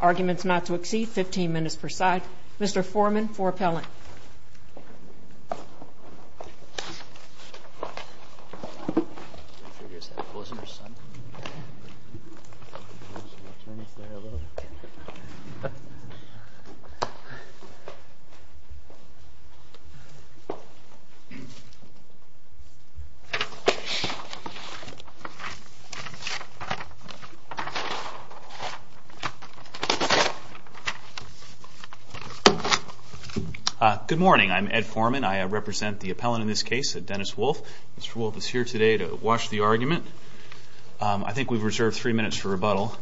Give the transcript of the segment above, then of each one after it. Arguments not to exceed 15 minutes per side. Mr. Foreman for appellant. Good morning. I'm Ed Foreman. I represent the appellant in this case, Dennis Wolfe. Mr. Wolfe is here today to watch the argument. I think we've reserved three minutes for rebuttal.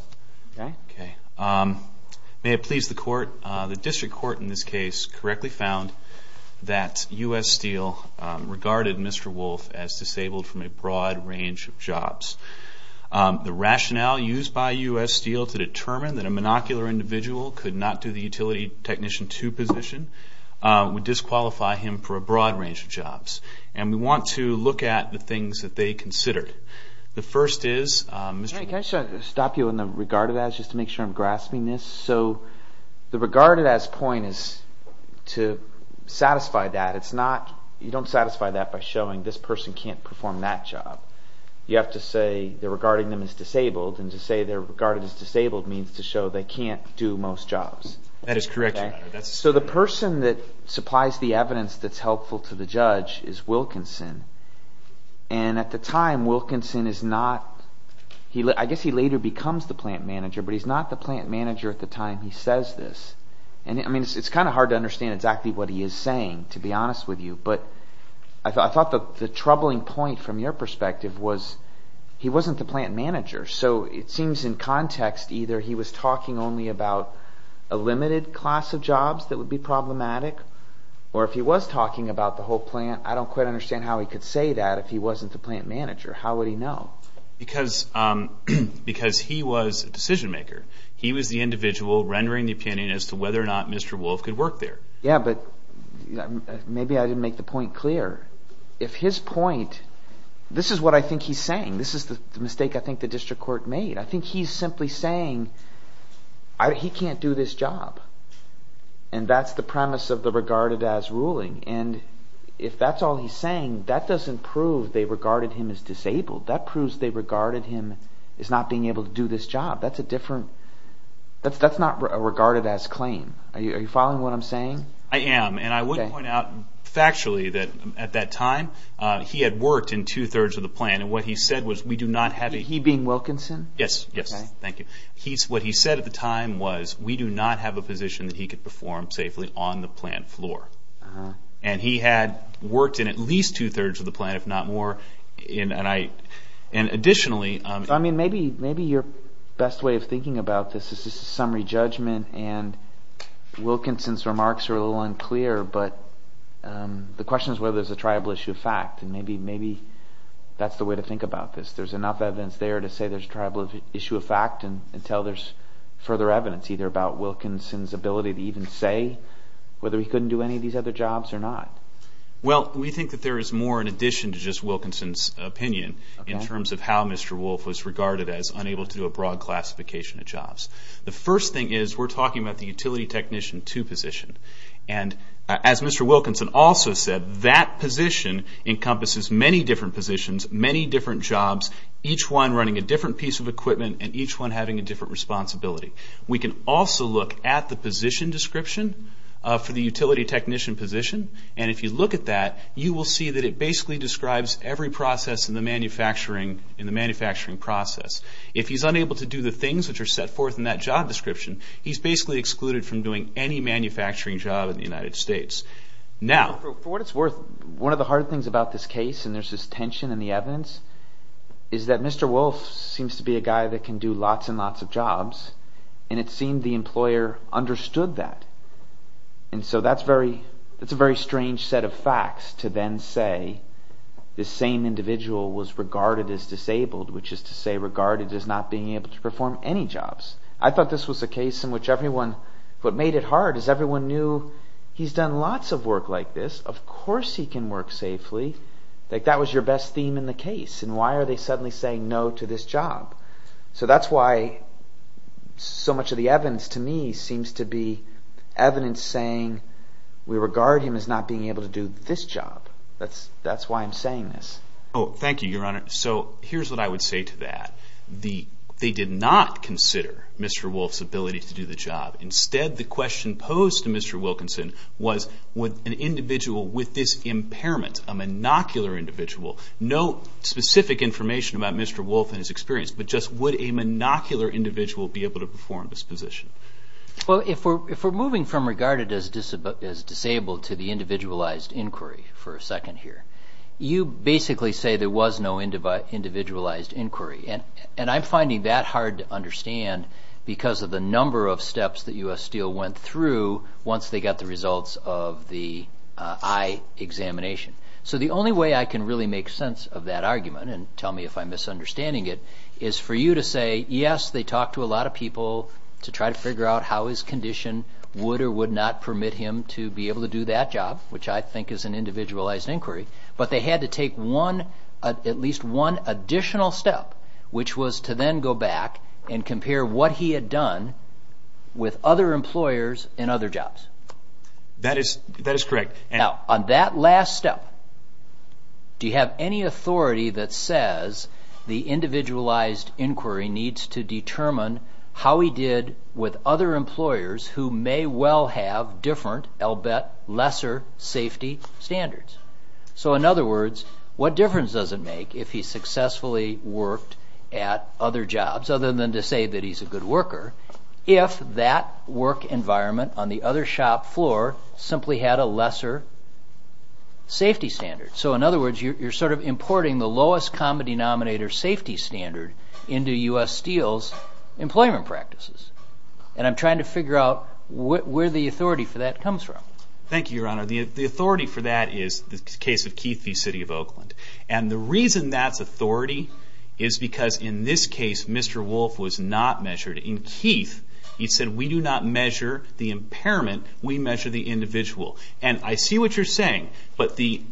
May it please the court, the district court in this case correctly found that U.S. Steel regarded Mr. Wolfe as disabled from a broad range of jobs. The rationale used by U.S. Steel to determine that a monocular individual could not do the utility technician two position would disqualify him for a broad range of jobs. And we want to look at the things that they considered. The first is, Mr. Wolfe. Can I stop you on the regarded as just to make sure I'm grasping this? So the regarded as point is to satisfy that. It's not, you don't satisfy that by showing this person can't perform that job. You have to say the regarding them as disabled and to say they're regarded as disabled means to show they can't do most jobs. That is correct. So the person that supplies the evidence that's helpful to the judge is Wilkinson. And at the time, Wilkinson is not, I guess he later becomes the plant manager, but he's not the plant manager at the time he says this. And I mean, it's kind of hard to understand exactly what he is saying, to be honest with you. But I thought the troubling point from your perspective was he wasn't the plant manager. So it seems in context either he was talking only about a limited class of jobs that would be problematic, or if he was talking about the whole plant, I don't quite understand how he could say that if he wasn't the plant manager. How would he know? Because he was a decision maker. He was the individual rendering the opinion as to whether or not Mr. Wolf could work there. Yeah, but maybe I didn't make the point clear. If his point, this is what I think he's saying. This is the mistake I think the district court made. I think he's simply saying he can't do this job. And that's the premise of the regarded as ruling. And if that's all he's saying, that doesn't prove they regarded him as disabled. That proves they regarded him as not being able to do this job. That's not regarded as claim. Are you following what I'm saying? I am. And I would point out factually that at that time, he had worked in two-thirds of the plant. And what he said was we do not have a... He being Wilkinson? Yes, yes. Thank you. What he said at the time was we do not have a position that he could perform safely on the plant floor. And he had worked in at least two-thirds of the plant, if not more. And I... And additionally... I mean, maybe your best way of thinking about this is just a summary judgment. And Wilkinson's remarks are a little unclear. But the question is whether there's a tribal issue of fact. And maybe that's the way to think about this. There's enough evidence there to say there's a tribal issue of fact until there's further evidence either about Wilkinson's ability to even say whether he couldn't do any of these other jobs or not. Well, we think that there is more in addition to just Wilkinson's opinion in terms of how Mr. Wolf was regarded as unable to do a broad classification of jobs. The first thing is we're talking about the utility technician two position. And as Mr. Wilkinson also said, that position encompasses many different positions, many different jobs, each one running a different piece of equipment, and each one having a different responsibility. We can also look at the position description for the utility technician position. And if you look at that, you will see that it basically describes every process in the manufacturing process. If he's unable to do the things which are set forth in that job description, he's basically excluded from doing any manufacturing job in the United States. Now... For what it's worth, one of the hard things about this case, and there's this tension in the evidence, is that Mr. Wolf seems to be a guy that can do lots and lots of jobs. And it seemed the employer understood that. And so that's a very strange set of facts to then say this same individual was regarded as disabled, which is to say regarded as not being able to perform any jobs. I thought this was a case in which everyone, what made it hard is everyone knew, he's done lots of work like this, of course he can work safely. Like, that was your best theme in the case, and why are they suddenly saying no to this job? So that's why so much of the evidence to me seems to be evidence saying we regard him as not being able to do this job. That's why I'm saying this. Oh, thank you, Your Honor. So here's what I would say to that. They did not consider Mr. Wolf's ability to do the job. Instead, the question posed to Mr. Wilkinson was would an individual with this impairment, a monocular individual, know specific information about Mr. Wolf and his experience? But just would a monocular individual be able to perform this position? Well, if we're moving from regarded as disabled to the individualized inquiry for a second here, you basically say there was no individualized inquiry. And I'm finding that hard to understand because of the number of steps that U.S. Steel went through once they got the results of the eye examination. So the only way I can really make sense of that argument, and tell me if I'm misunderstanding it, is for you to say, yes, they talked to a lot of people to try to figure out how his condition would or would not permit him to be able to do that job, which I think is an individualized inquiry. But they had to take one, at least one additional step, which was to then go back and compare what he had done with other employers and other jobs. That is correct. Now, on that last step, do you have any authority that says the individualized inquiry needs to determine how he did with other employers who may well have different, I'll bet, lesser safety standards? So in other words, what difference does it make if he successfully worked at other jobs, other than to say that he's a good worker, if that work environment on the other shop floor simply had a lesser safety standard? So in other words, you're sort of importing the lowest common denominator safety standard into U.S. Steel's employment practices. And I'm trying to figure out where the authority for that comes from. Thank you, Your Honor. The authority for that is the case of Keith v. City of Oakland. And the reason that's authority is because in this case, Mr. Wolf was not measured. In Keith, he said, we do not measure the impairment. We measure the individual. And I see what you're saying. But the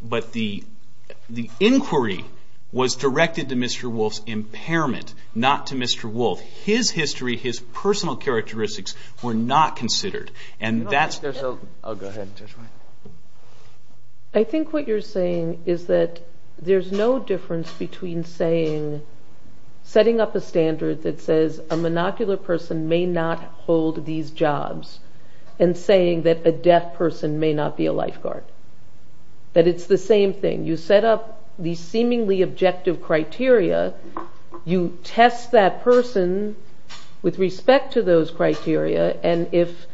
inquiry was directed to Mr. Wolf's impairment, not to Mr. Wolf. His history, his personal characteristics were not considered. And that's... I think what you're saying is that there's no difference between setting up a standard that says a monocular person may not hold these jobs and saying that a deaf person may not be a lifeguard. That it's the same thing. You set up these seemingly objective criteria. You test that person with respect to those criteria. And if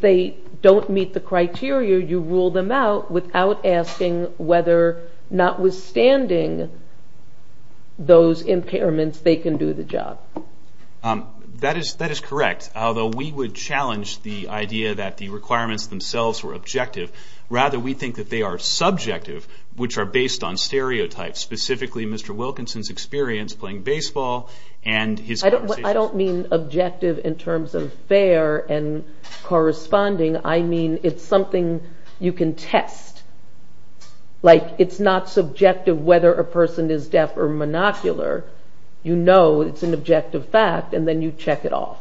they don't meet the criteria, you rule them out without asking whether, notwithstanding those impairments, they're going to do the job. That is correct. Although we would challenge the idea that the requirements themselves were objective. Rather, we think that they are subjective, which are based on stereotypes. Specifically, Mr. Wilkinson's experience playing baseball and his... I don't mean objective in terms of fair and corresponding. I mean it's something you can know is an objective fact and then you check it off.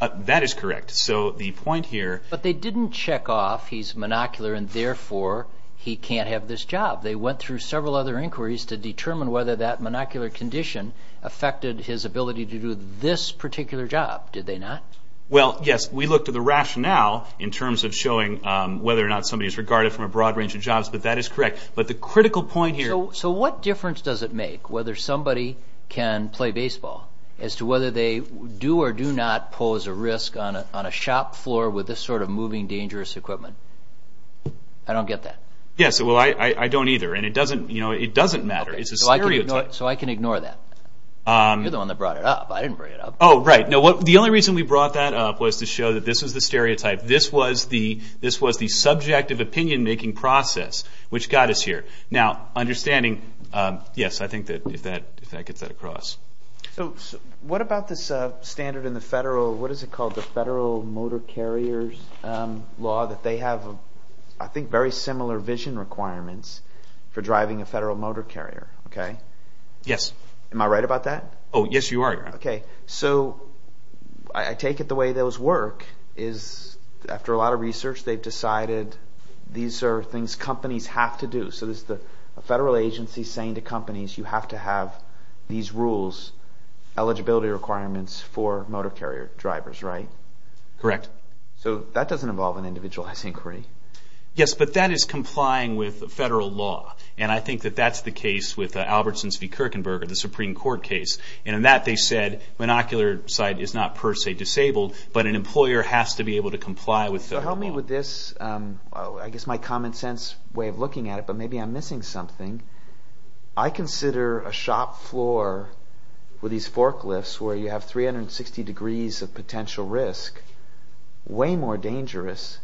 That is correct. So the point here... But they didn't check off he's monocular and therefore he can't have this job. They went through several other inquiries to determine whether that monocular condition affected his ability to do this particular job. Did they not? Well, yes. We looked at the rationale in terms of showing whether or not somebody is regarded from a broad range of jobs. But that is correct. But the critical point here... So what difference does it make whether somebody can play baseball as to whether they do or do not pose a risk on a shop floor with this sort of moving dangerous equipment? I don't get that. Yes. Well, I don't either. And it doesn't matter. It's a stereotype. So I can ignore that. You're the one that brought it up. I didn't bring it up. Oh, right. The only reason we brought that up was to show that this is the stereotype. This was the subjective opinion-making process which got us here. Now, understanding... Yes, I think that if that gets that across. What about this standard in the federal... What is it called? The federal motor carrier's law that they have, I think, very similar vision requirements for driving a federal motor carrier. Okay? Yes. Am I right about that? Oh, yes, you are, Your Honor. So I take it the way those work is, after a lot of research, they've decided these are things companies have to do. So there's a federal agency saying to companies, you have to have these rules, eligibility requirements, for motor carrier drivers, right? Correct. So that doesn't involve an individualized inquiry? Yes, but that is complying with federal law. And I think that that's the case with Albertson v. Kirkenberger, the Supreme Court case. And in that, they said, monocular sight is not per se disabled, but an employer has to be able to comply with federal law. But help me with this, I guess my common sense way of looking at it, but maybe I'm missing something. I consider a shop floor with these forklifts where you have 360 degrees of potential risk way more dangerous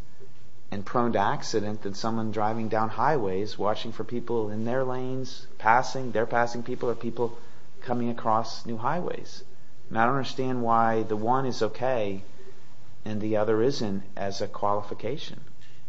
and prone to accident than someone driving down highways watching for people in their lanes, passing, they're passing people or people coming across new highways. And I don't understand why the one is okay and the other isn't as a qualification.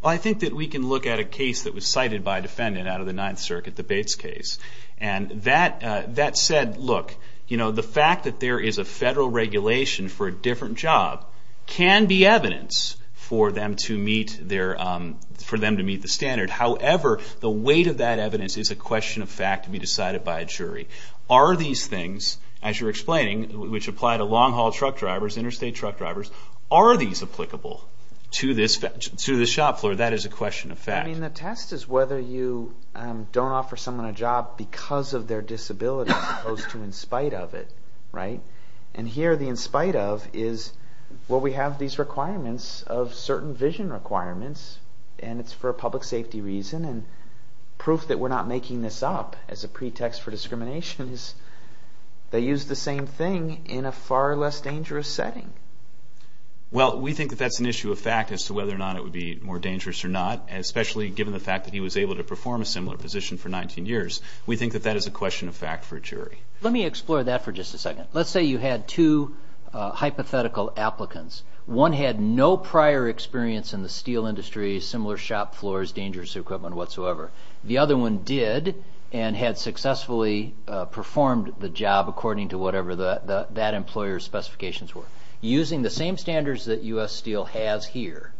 I think that we can look at a case that was cited by a defendant out of the Ninth Circuit, the Bates case. And that said, look, the fact that there is a federal regulation for a different job can be evidence for them to meet the standard. However, the weight of the regulation of that evidence is a question of fact to be decided by a jury. Are these things, as you're explaining, which apply to long-haul truck drivers, interstate truck drivers, are these applicable to this shop floor? That is a question of fact. I mean, the test is whether you don't offer someone a job because of their disability as opposed to in spite of it, right? And here, the in spite of is, well, we have these requirements of certain vision requirements and it's for a public safety reason and proof that we're not making this up as a pretext for discrimination is they use the same thing in a far less dangerous setting. Well, we think that that's an issue of fact as to whether or not it would be more dangerous or not, especially given the fact that he was able to perform a similar position for 19 years. We think that that is a question of fact for a jury. Let me explore that for just a second. Let's say you had two hypothetical applicants. One had no prior experience in the steel industry, similar shop floors, dangerous equipment whatsoever. The other one did and had successfully performed the job according to whatever that employer's specifications were. Using the same standards that U.S. Steel has here,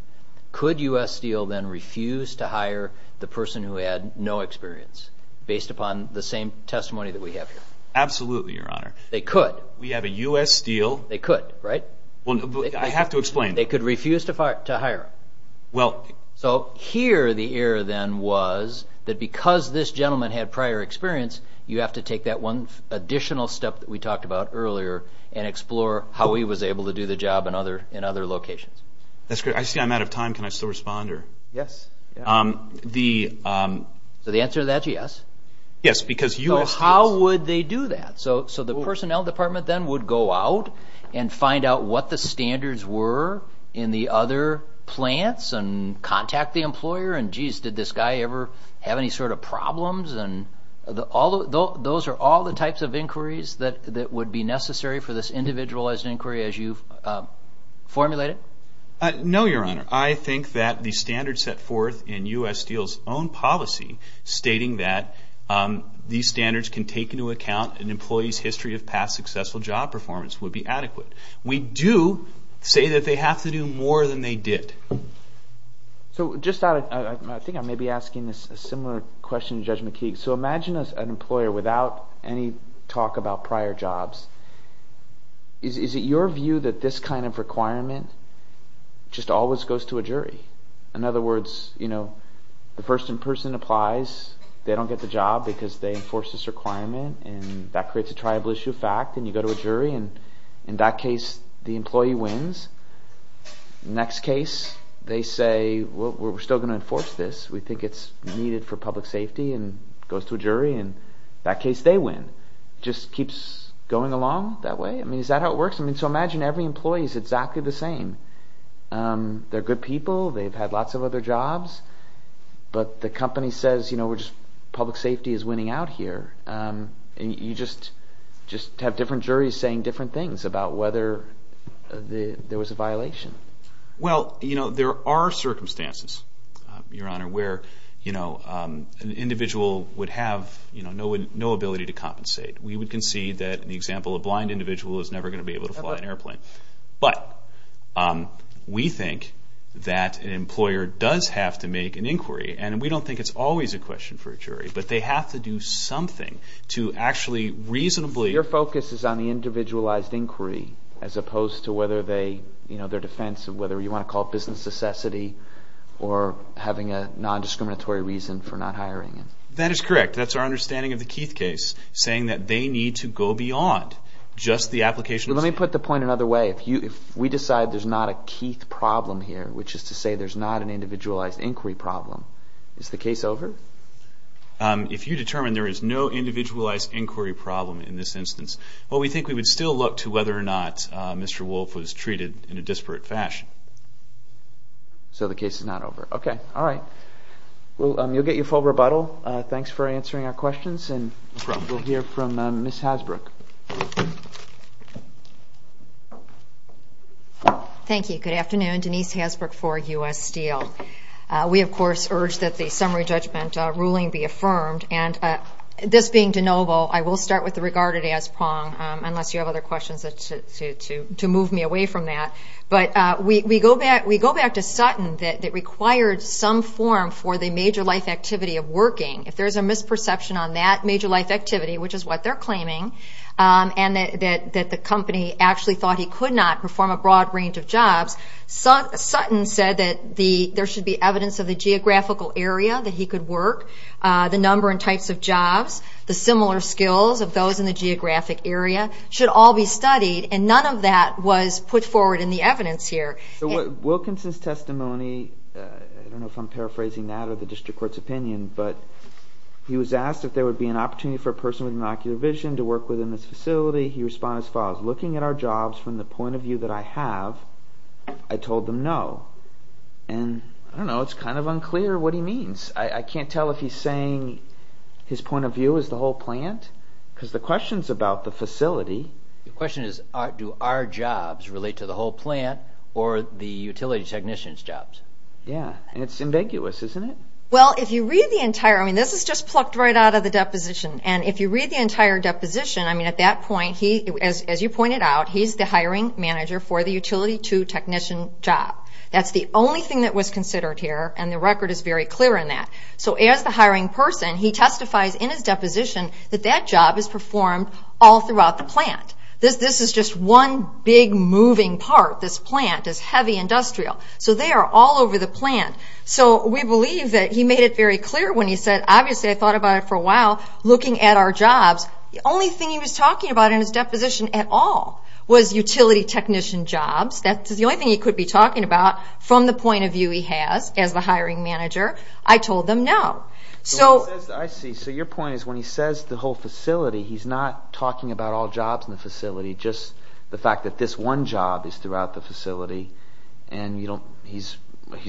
could U.S. Steel then refuse to hire the person who had no experience based upon the same testimony that we have here? Absolutely, Your Honor. They could. We have a U.S. Steel. They could, right? I have to explain. They could refuse to hire him. So here the error then was that because this gentleman had prior experience, you have to take that one additional step that we talked about earlier and explore how he was able to do the job in other locations. That's great. I see I'm out of time. Can I still respond? Yes. So the answer to that is yes? Yes, because U.S. Steel... what the standards were in the other plants and contact the employer and, geez, did this guy ever have any sort of problems? Those are all the types of inquiries that would be necessary for this individualized inquiry as you've formulated? No, Your Honor. I think that the standards set forth in U.S. Steel's own policy stating that these standards can take into account an employee's history of past successful job performance would be adequate. We do say that they have to do more than they did. So just out of... I think I may be asking a similar question to Judge McKeague. So imagine an employer without any talk about prior jobs. Is it your view that this kind of requirement just always goes to a jury? In other words, you know, the first in person applies. They don't get the job because they enforce this requirement and that creates a triable issue fact and you go to a jury and in that case the employee wins. Next case they say, well, we're still going to enforce this. We think it's needed for public safety and it goes to a jury and in that case they win. It just keeps going along that way? I mean, is that how it works? I mean, so imagine every employee is exactly the same. They're good people. They've had lots of other jobs. But the company says, you know, we're just... public safety is winning out here. You just have different juries saying different things about whether there was a violation. Well, you know, there are circumstances, Your Honor, where an individual would have no ability to compensate. We would concede that in the example of a blind individual is never going to be able to fly an airplane. But we think that an employer does have to make an inquiry and we don't think it's always a question for a jury, but they have to do something to actually reasonably... Your focus is on the individualized inquiry as opposed to whether they, you know, their defense of whether you want to call it business necessity or having a non-discriminatory reason for not hiring. That is correct. That's our understanding of the Keith case, saying that they need to go beyond just the application... Let me put the point another way. If we decide there's not a Keith problem here, which is to say there's not an individualized inquiry problem, is the case over? If you determine there is no individualized inquiry problem in this instance, well, we think we would still look to whether or not Mr. Wolfe was treated in a disparate fashion. So the case is not over. Okay. All right. You'll get your full rebuttal. Thanks for answering our questions and we'll hear from Ms. Hasbrook. Thank you. Good afternoon. Denise Hasbrook for U.S. Steel. We, of course, urge that the summary judgment ruling be affirmed. And this being de novo, I will start with the regarded as prong, unless you have other questions to move me away from that. But we go back to Sutton that required some form for the major life activity of working. If there's a misperception on that major life activity, which is what they're claiming, and that the company actually thought he could not perform a broad range of jobs, Sutton said that there should be evidence of the geographical area that he could work, the number and types of jobs, the similar skills of those in the geographic area should all be studied. And none of that was put forward in the evidence here. So Wilkinson's testimony, I don't know if I'm paraphrasing that or the district court's opinion, but he was asked if there would be an opportunity for a person with an ocular vision to work within this facility. He responded as follows, looking at our jobs from the point of view that I have, I told them no. And I don't know, it's kind of unclear what he means. I can't tell if he's saying his point of view is the whole plant, because the question is about the facility. The question is, do our jobs relate to the whole plant or the utility technician's jobs? Yeah. And it's ambiguous, isn't it? Well, if you read the entire, I mean, this is just plucked right out of the deposition. And if you read the entire deposition, I mean, at that point, he, as you pointed out, he's the hiring manager for the utility 2 technician job. That's the only thing that was considered here, and the record is very clear on that. So as the hiring person, he testifies in his deposition that that job is performed all throughout the plant. This is just one big moving part, this plant, this heavy industrial. So they are all over the plant. So we believe that he made it very clear when he said, obviously, I thought about it for a while, looking at our jobs, the only thing he was talking about in his deposition at all was utility technician jobs. That's the only thing he could be talking about from the point of view he has as the hiring manager. I told them no. So I see. So your point is when he says the whole facility, he's not talking about all jobs in the facility, just the fact that this one job is throughout the facility, and he's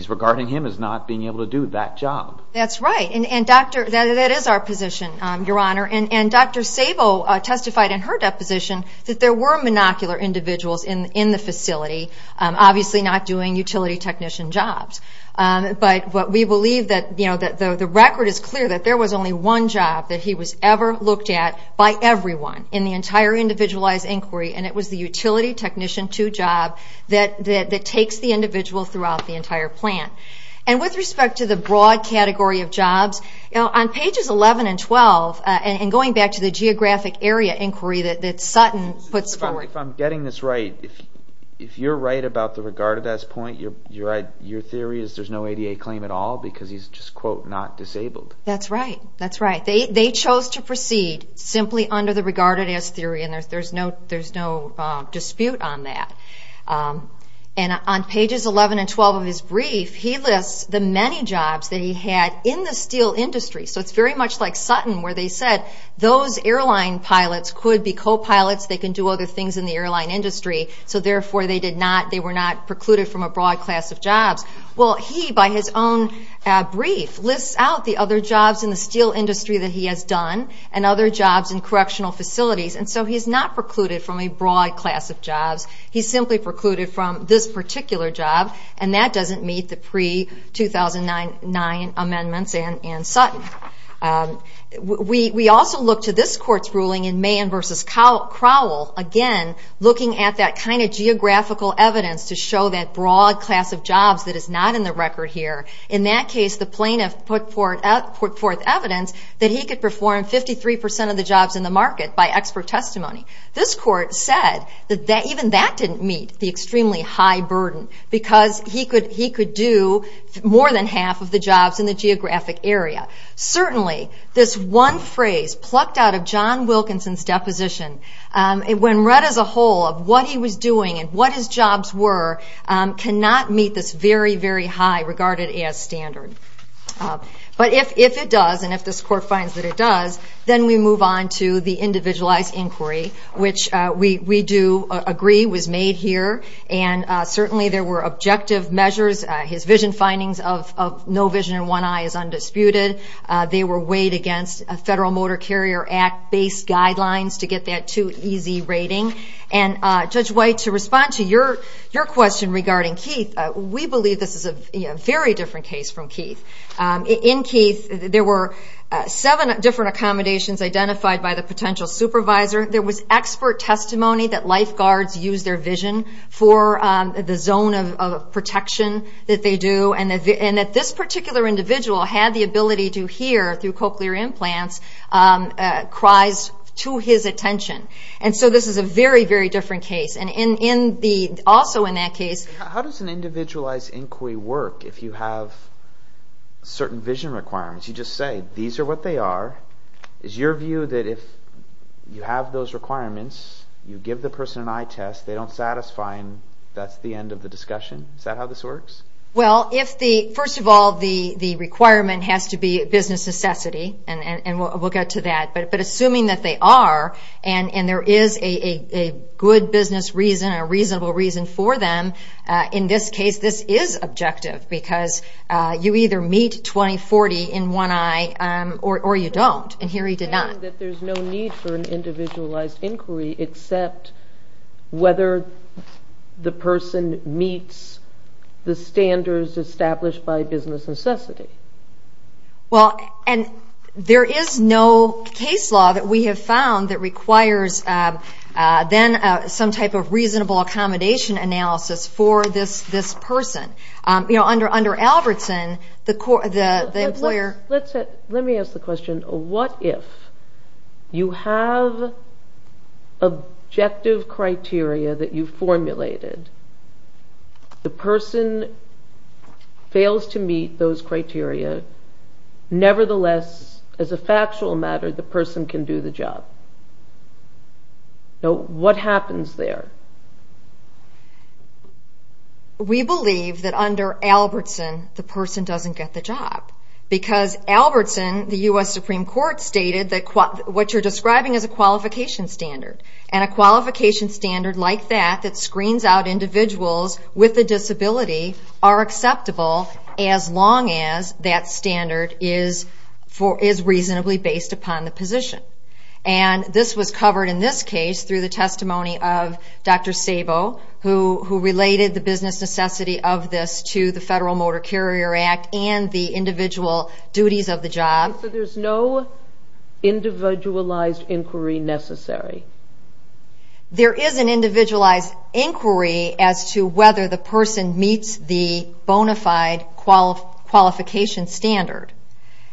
regarding him as not being able to do that job. That's right. And that is our position, Your Honor. And Dr. Sabo testified in her deposition that there were monocular individuals in the facility, obviously not doing utility technician jobs. But we believe that the record is clear that there was only one job that he was ever looked at by everyone in the entire individualized inquiry, and it was the utility technician 2 job that takes the individual throughout the entire plant. And with respect to the broad category of jobs, on pages 11 and 12, and going back to the geographic area inquiry that Sutton puts forward... If I'm getting this right, if you're right about the regarded as point, your theory is there's no ADA claim at all because he's just, quote, not disabled. That's right. That's right. They chose to proceed simply under the regarded as theory, and there's no dispute on that. And on pages 11 and 12 of his brief, he lists the many jobs that he had in the steel industry. So it's very much like Sutton, where they said those airline pilots could be co-pilots, they can do other things in the airline industry, so therefore they were not precluded from a broad class of jobs. Well, he, by his own brief, lists out the other jobs in the steel industry that he has done, and other jobs in correctional facilities, and so he's not precluded from a broad class of jobs. He's simply precluded from this particular job, and that doesn't meet the pre-2009 amendments in Sutton. We also look to this court's ruling in Mahan v. Crowell, again, looking at that kind of geographical evidence to show that broad class of jobs that is not in the record here. In that case, the plaintiff put forth evidence that he could perform 53 percent of the jobs in the market by expert testimony. This court said that even that didn't meet the extremely high burden, because he could do more than half of the jobs in the geographic area. Certainly, this one phrase plucked out of John Wilkinson's deposition, when read as a whole of what he was doing and what his jobs were, cannot meet this very, very high regarded as standard. But if it does, and if this court finds that it does, then we move on to the individualized inquiry, which we do agree was made here, and certainly there were objective measures. His vision findings of no vision and one eye is undisputed. They were weighed against Federal Motor Carrier Act-based guidelines to get that two EZ rating, and Judge White, to respond to your question regarding Keith, we believe this is a very different case from Keith. In Keith, there were seven different accommodations identified by the potential supervisor. There was expert testimony that lifeguards use their vision for the zone of protection that they do, and that this particular individual had the ability to hear, through cochlear implants, cries to his attention. This is a very, very different case. Also in that case... How does an individualized inquiry work if you have certain vision requirements? You just say, these are what they are. Is your view that if you have those requirements, you give the person an eye test, they don't satisfy, and that's the end of the discussion? Is that how this works? Well, first of all, the requirement has to be a business necessity, and we'll get to that, but assuming that they are, and there is a good business reason, a reasonable reason for them, in this case, this is objective, because you either meet 20-40 in one eye, or you don't, and here he did not. I think that there's no need for an individualized inquiry, except whether the person meets the standards established by business necessity. There is no case law that we have found that requires, then, some type of reasonable accommodation analysis for this person. Under Albertson, the employer... Let me ask the question, what if you have objective criteria that you've formulated, the person fails to meet those criteria, nevertheless, as a factual matter, the person can do the job? What happens there? We believe that under Albertson, the person doesn't get the job, because Albertson, the U.S. Supreme Court stated what you're describing is a qualification standard, and a qualification standard like that, that screens out individuals with a disability, are acceptable, as long as that standard is reasonably based upon the position. This was covered in this case, through the testimony of Dr. Sabo, who related the business necessity of this to the Federal Motor Carrier Act, and the individual duties of the job. There's no individualized inquiry necessary? There is an individualized inquiry as to whether the person meets the bona fide qualification standard.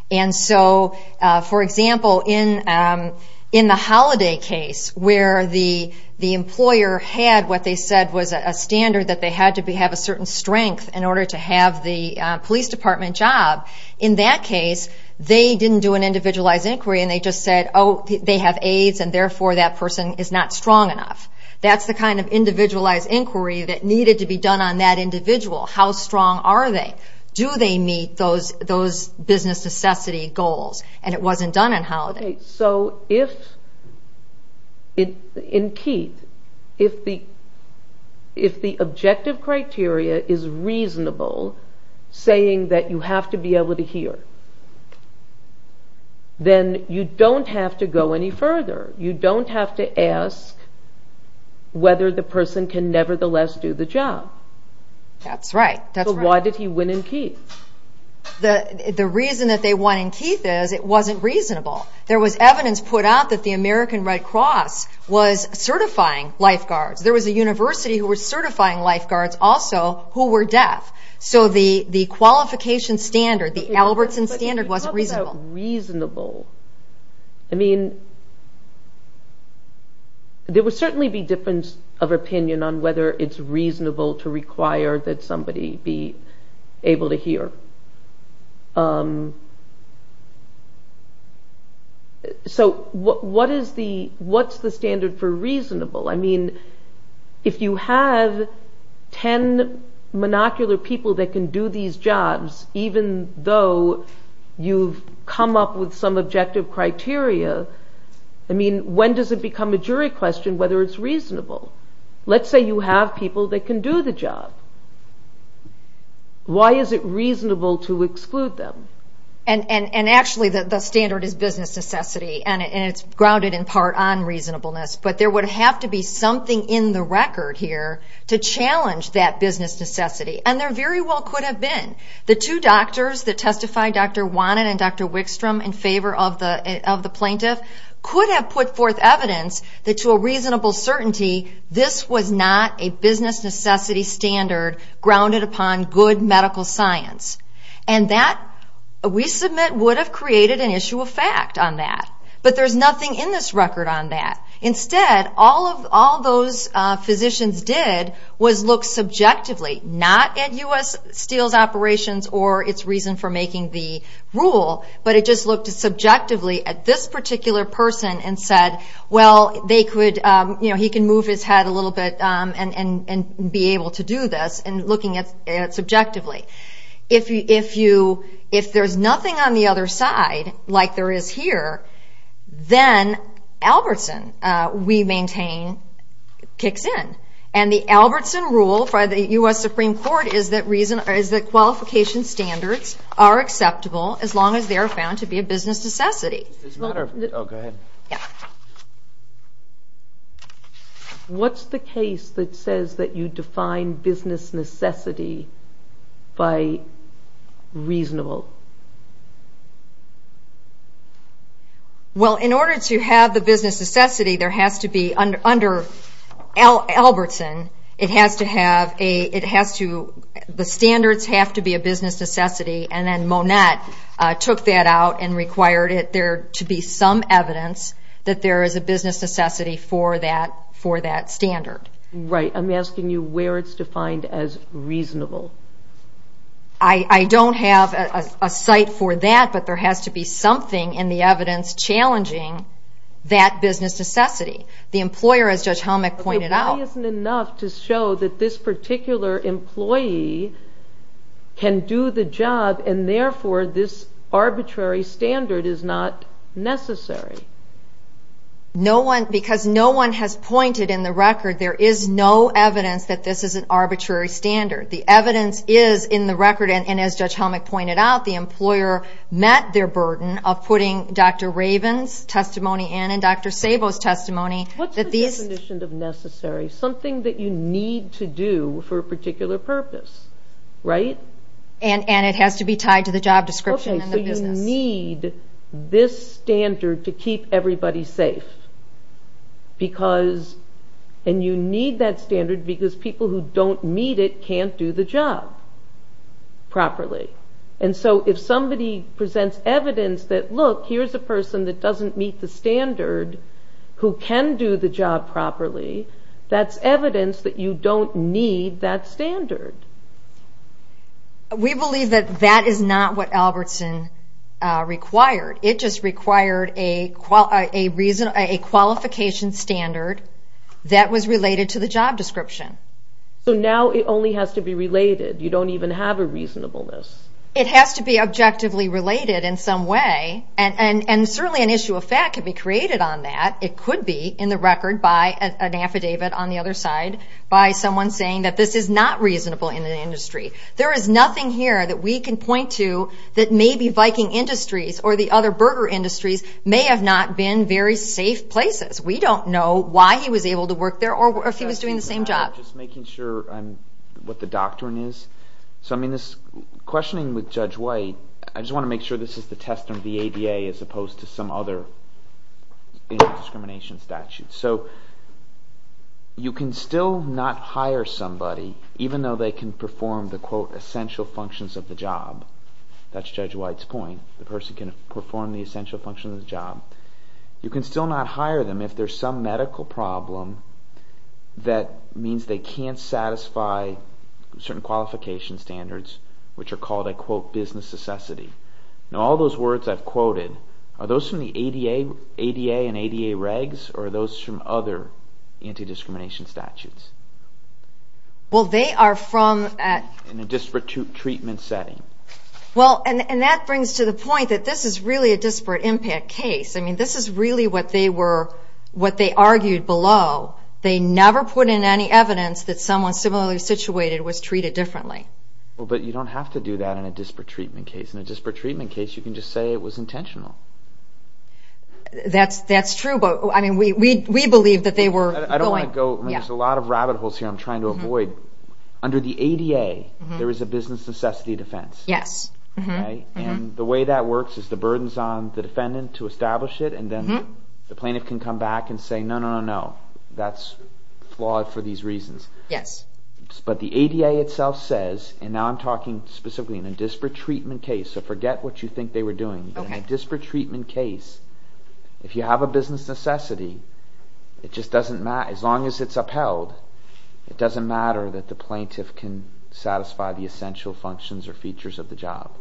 For example, in the Holiday case, where the employer had what they said was a standard that they had to have a certain strength in order to have the police department do the job, in that case, they didn't do an individualized inquiry, and they just said, oh, they have AIDS, and therefore, that person is not strong enough. That's the kind of individualized inquiry that needed to be done on that individual. How strong are they? Do they meet those business necessity goals? And it wasn't done in Holiday. In Keith, if the objective criteria is reasonable, saying that you have to meet the business necessity, you have to be able to hear, then you don't have to go any further. You don't have to ask whether the person can nevertheless do the job. That's right. So why did he win in Keith? The reason that they won in Keith is it wasn't reasonable. There was evidence put out that the American Red Cross was certifying lifeguards. There was a university who was certifying lifeguards also who were deaf. So the qualification standard, the Albertson standard, wasn't reasonable. There would certainly be difference of opinion on whether it's reasonable to require that somebody be able to hear. So what's the standard for reasonable? I mean, if you have ten monocular people that can do these jobs, even though you've come up with some objective criteria, I mean, when does it become a jury question whether it's reasonable? Let's say you have people that can do the job. Why is it reasonable to exclude them? And actually, the standard is business necessity, and it's grounded in part on reasonableness. But there would have to be something in the record here to challenge that business necessity. And there very well could have been. The two doctors that testified, Dr. Wannan and Dr. Wickstrom, in favor of the plaintiff, could have put forth evidence that to a reasonable certainty this was not a business necessity standard grounded upon good medical science. And that, we submit, would have created an issue of fact on that. But there's nothing in this record on that. Instead, all those physicians did was look subjectively, not at U.S. Steel's operations or its reason for making the rule, but it just looked subjectively at this particular person and said, well, he can move his head a little bit and be able to do this, and looking at it subjectively. If there's nothing on the other side, like there is here, then Albertson, we maintain, kicks in. And the Albertson rule by the U.S. Supreme Court is that qualification standards are acceptable as long as they are found to be a business necessity. What's the case that says that you define business necessity by reasonable? Well in order to have the business necessity, there has to be, under Albertson, it has to have a, it has to, the standards have to be a business necessity, and then Monette took that out and required it there to be some evidence that there is a business necessity for that standard. Right. I'm asking you where it's defined as reasonable. I don't have a site for that, but there has to be something in the evidence challenging that business necessity. The employer, as Judge Helmick pointed out... But the way isn't enough to show that this particular employee can do the job, and therefore this arbitrary standard is not necessary. No one, because no one has pointed in the record, there is no evidence that this is an arbitrary standard. The evidence is in the record, and as Judge Helmick pointed out, the employer met their burden of putting Dr. Raven's testimony in and Dr. Sabo's testimony that these... What's the definition of necessary? Something that you need to do for a particular purpose, right? And it has to be tied to the job description and the business. Okay, so you need this standard to keep everybody safe, because, and you need that standard because people who don't meet it can't do the job properly. And so if somebody presents evidence that, look, here's a person that doesn't meet the standard who can do the job properly, that's evidence that you don't need that standard. We believe that that is not what Albertson required. It just required a qualification standard that was related to the job description. So now it only has to be related. You don't even have a reasonableness. It has to be objectively related in some way, and certainly an issue of fact can be created on that. It could be in the record by an affidavit on the other side by someone saying that this is not reasonable in the industry. There is nothing here that we can point to that maybe Viking Industries or the other burger industries may have not been very safe places. We don't know why he was able to work there or if he was doing the same job. Just making sure what the doctrine is. So I mean this questioning with Judge White, I just want to make sure this is the test on VADA as opposed to some other discrimination statute. So you can still not hire somebody even though they can perform the quote essential functions of the job. That's Judge White's point. The person can perform the essential functions of the job. You can still not hire them if there's some medical problem that means they can't satisfy certain qualification standards which are called a quote business necessity. Now all those words I've quoted, are those from the ADA and ADA regs or are those from other anti-discrimination statutes? Well they are from a disparate treatment setting. And that brings to the point that this is really a disparate impact case. I mean this is really what they argued below. They never put in any evidence that someone similarly was doing a disparate treatment case. In a disparate treatment case you can just say it was intentional. That's true but I mean we believe that they were going. There's a lot of rabbit holes here I'm trying to avoid. Under the ADA there is a business necessity defense. Yes. And the way that works is the burden is on the defendant to establish it and then the plaintiff can come back and say no, no, no, that's flawed for these reasons. Yes. But the ADA itself says and now I'm talking specifically in a disparate treatment case so forget what you think they were doing. In a disparate treatment case, if you have a business necessity, as long as it's upheld, it doesn't matter that the plaintiff can satisfy the essential functions or features of the job.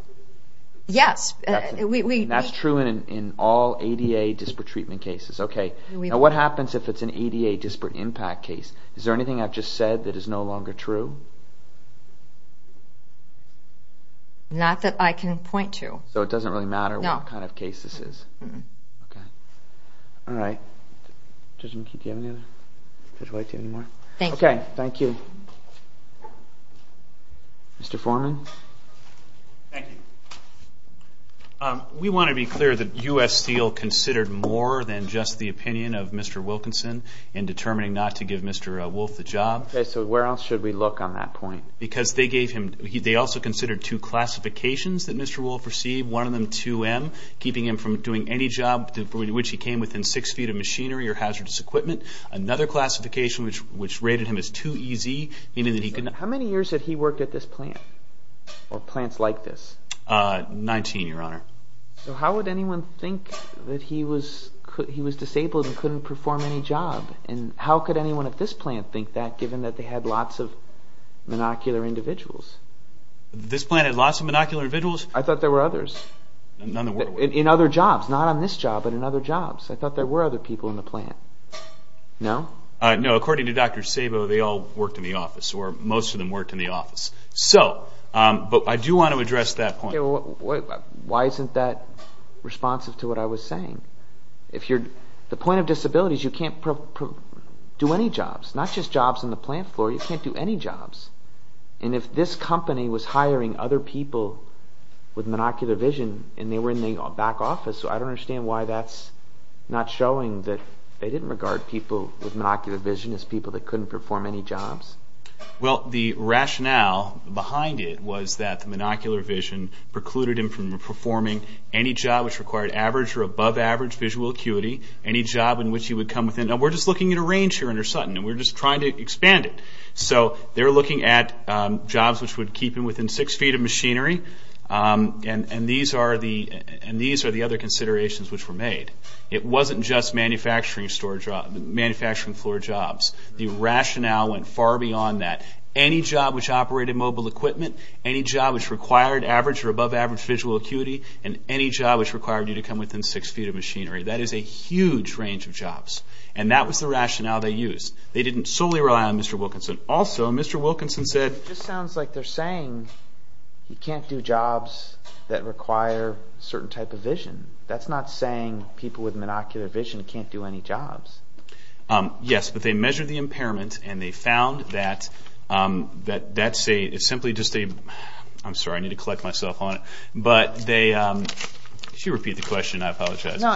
Yes. And that's true in all ADA disparate treatment cases. Now what happens if it's an ADA disparate impact case? Is there anything I've just said that is no longer true? Not that I can point to. So it doesn't really matter what kind of case this is? No. Okay. Alright. Thank you. Mr. Foreman. Thank you. We want to be clear that U.S. Steel considered more than just the opinion of Mr. Wilkinson in determining not to give Mr. Wolfe a job. Okay. So where else should we look on that point? Because they gave him, they also considered two classifications that Mr. Wolfe received. One of them 2M, keeping him from doing any job for which he came within six feet of machinery or hazardous equipment. Another classification which rated him as 2EZ, meaning that he could not... How many years had he worked at this plant? Or plants like this? Nineteen, your point is that he was disabled and couldn't perform any job. And how could anyone at this plant think that given that they had lots of monocular individuals? This plant had lots of monocular individuals? I thought there were others. In other jobs, not on this job but in other jobs. I thought there were other people in the plant. No? No. According to Dr. Sabo, they all worked in the office or most of them worked in the office. So, but I do want to address that point. Why isn't that responsive to what I was saying? If you're... The point of disability is you can't do any jobs. Not just jobs in the plant floor, you can't do any jobs. And if this company was hiring other people with monocular vision and they were in the back office, I don't understand why that's not showing that they didn't regard people with monocular vision as people that couldn't perform any jobs. Well, the rationale behind it was that the monocular vision precluded him from performing any job which required average or above average visual acuity. Any job in which he would come within... And we're just looking at a range here under Sutton. And we're just trying to expand it. So, they're looking at jobs which would keep him within six feet of machinery. And these are the other considerations which were made. It wasn't just manufacturing store jobs, manufacturing floor jobs. The rationale went far beyond that. Any job which operated mobile equipment, any job which required average or above average visual acuity, and any job which required you to come within six feet of machinery. That is a huge range of jobs. And that was the rationale they used. They didn't solely rely on Mr. Wilkinson. Also, Mr. Wilkinson said... It just sounds like they're saying you can't do jobs that require a certain type of vision. That's not saying people with monocular vision can't do any jobs. Yes, but they measured the impairment and they found that... It's simply just a... I'm sorry. I need to collect myself on it. But they... Could you repeat the question? I apologize. No.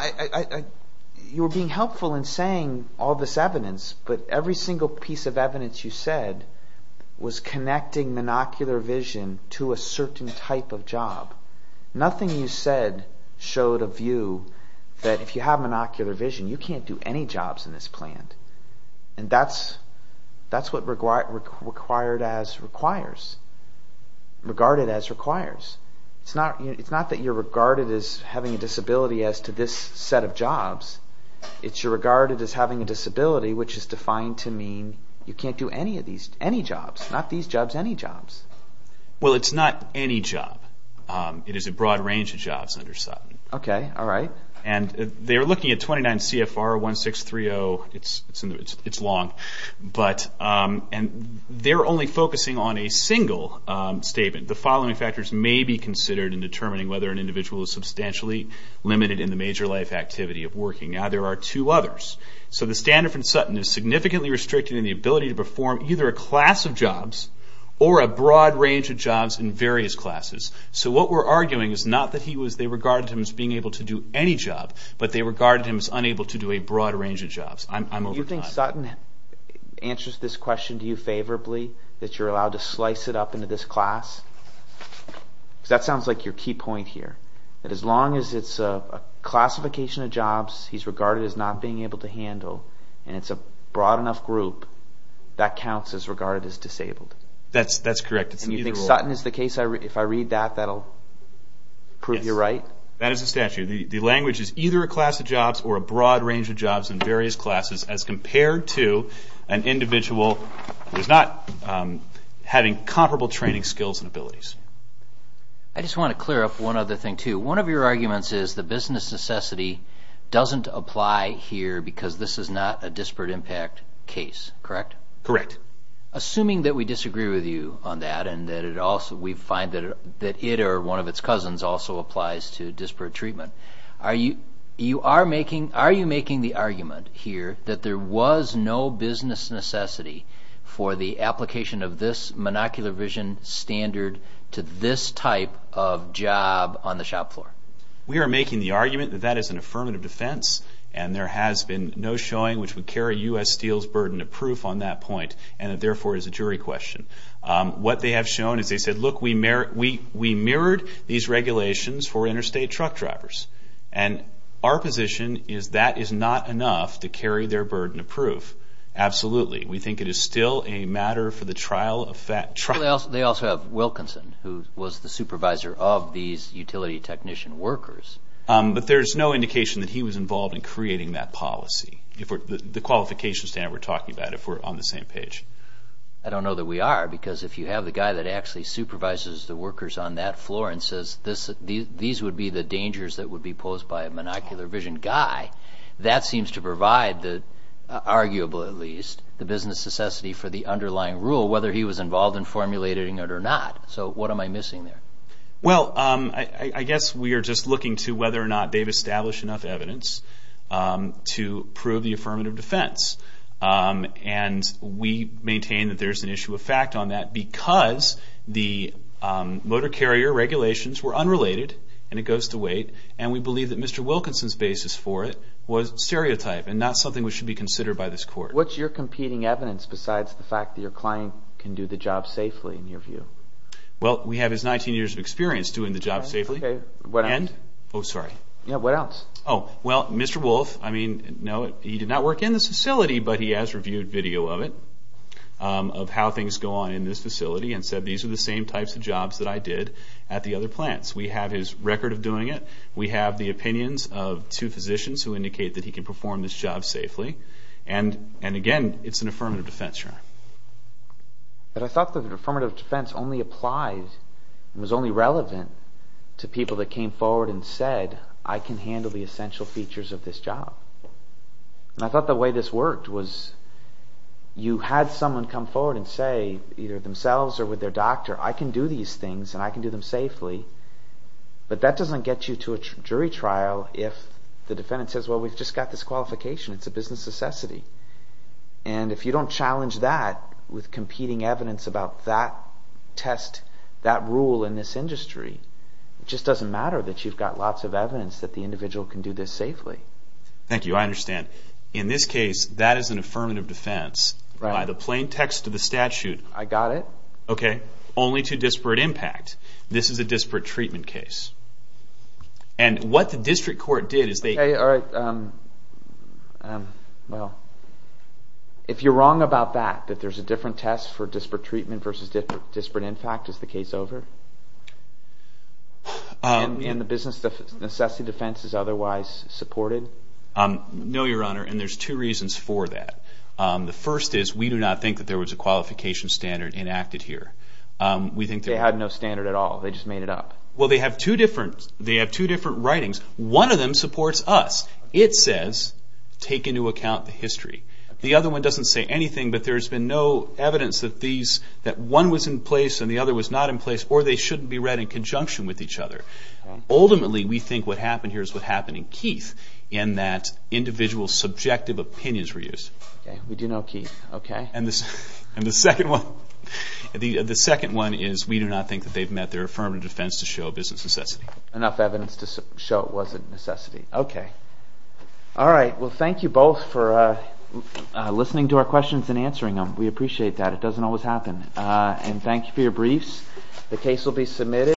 You were being helpful in saying all this evidence. But every single piece of evidence you said was connecting monocular vision to a certain type of job. Nothing you said showed a view that if you have monocular vision, you can't do any jobs in this plant. And that's what required as requires. Regarded as requires. It's not that you're regarded as having a disability as to this set of jobs. It's you're regarded as having a disability which is defined to mean you can't do any of these, any jobs. Not these jobs, any jobs. Well, it's not any job. It is a broad range of jobs under Sutton. Okay. All right. And they're looking at 29 CFR 1630. It's long. But... And they're only focusing on a single statement. The following factors may be considered in determining whether an individual is substantially limited in the major life activity of working. Now, there are two others. So the standard from Sutton is significantly restricted in the ability to perform either a class of jobs or a broad range of jobs in various classes. So what we're arguing is not that he was... They regarded him as being able to do any job, but they regarded him as unable to do a broad range of jobs. I'm over time. You think Sutton answers this question to you favorably? That you're allowed to slice it up into this class? Because that sounds like your key point here. That as long as it's a classification of jobs, he's regarded as not being able to handle, and it's a broad enough group, that counts as regarded as disabled. That's correct. It's either or. And you think Sutton is the case? If I read that, that'll prove you right? Yes. That is the statute. The language is either a class of jobs or a broad range of jobs in various classes as compared to an individual who's not having comparable training skills and abilities. I just want to clear up one other thing, too. One of your arguments is the business necessity doesn't apply here because this is not a disparate impact case, correct? Correct. Assuming that we disagree with you on that and that we find that it or one of its cousins also applies to disparate treatment, are you making the argument here that there was no business necessity for the application of this monocular vision standard to this type of job on the shop floor? We are making the argument that that is an affirmative defense, and there has been no showing which would carry U.S. Steel's burden of proof on that point, and it therefore is a jury question. What they have shown is they said, look, we mirrored these regulations for interstate truck drivers. And our position is that is not enough to carry their burden of proof. Absolutely. We think it is still a matter for the trial of fact. They also have Wilkinson, who was the supervisor of these utility technician workers. But there is no indication that he was involved in creating that policy, the qualification standard we are talking about, if we are on the same page. I don't know that we are, because if you have the guy that actually supervises the workers on that floor and says these would be the dangers that would be posed by a monocular vision guy, that seems to provide, arguably at least, the business necessity for the underlying rule, whether he was involved in formulating it or not. So what am I missing there? Well, I guess we are just looking to whether or not they have established enough evidence to prove the affirmative defense. And we maintain that there is an issue of fact on that, because the motor carrier regulations were unrelated, and it goes to weight, and we believe that Mr. Wilkinson's basis for it was stereotype and not something that should be considered by this court. What is your competing evidence besides the fact that your client can do the job safely, in your view? Well, we have his 19 years of experience doing the job safely. Okay. What else? Oh, sorry. Yeah, what else? Oh, well, Mr. Wolfe, I mean, no, he did not work in this facility, but he has reviewed video of it, of how things go on in this facility, and said these are the same types of jobs that I did at the other plants. We have his record of doing it. We have the opinions of two physicians who indicate that he can perform this job safely. And again, it is an affirmative defense, Your Honor. But I thought the affirmative defense only applied, was only relevant to people that came forward and said, I can handle the essential features of this job. And I thought the way this worked was, you had someone come forward and say, either themselves or with their doctor, I can do these things, and I can do them safely, but that does not get you to a jury trial if the defendant says, well, we've just got this qualification. It's a business necessity. And if you don't challenge that with competing evidence about that test, that rule in this industry, it just doesn't matter that you've got lots of evidence that the individual can do this safely. Thank you. I understand. In this case, that is an affirmative defense by the plain text of the statute. I got it. Okay. Only to disparate impact. This is a disparate treatment case. And what the district court did is they... Okay. All right. Well, if you're wrong about that, that there's a different test for disparate treatment versus disparate impact, is the case over? And the business necessity defense is otherwise supported? No, Your Honor. And there's two reasons for that. The first is, we do not think that there was a standard enacted here. We think that... They had no standard at all. They just made it up. Well, they have two different writings. One of them supports us. It says, take into account the history. The other one doesn't say anything, but there's been no evidence that one was in place and the other was not in place, or they shouldn't be read in conjunction with each other. All right. Ultimately, we think what happened here is what happened in Keith, in that individual's subjective opinions were used. Okay. We do know Keith. Okay. And the second one is, we do not think that they've met their affirmative defense to show business necessity. Enough evidence to show it wasn't necessity. Okay. All right. Well, thank you both for listening to our questions and answering them. We appreciate that. It doesn't always happen. And thank you for your briefs. The case will be submitted.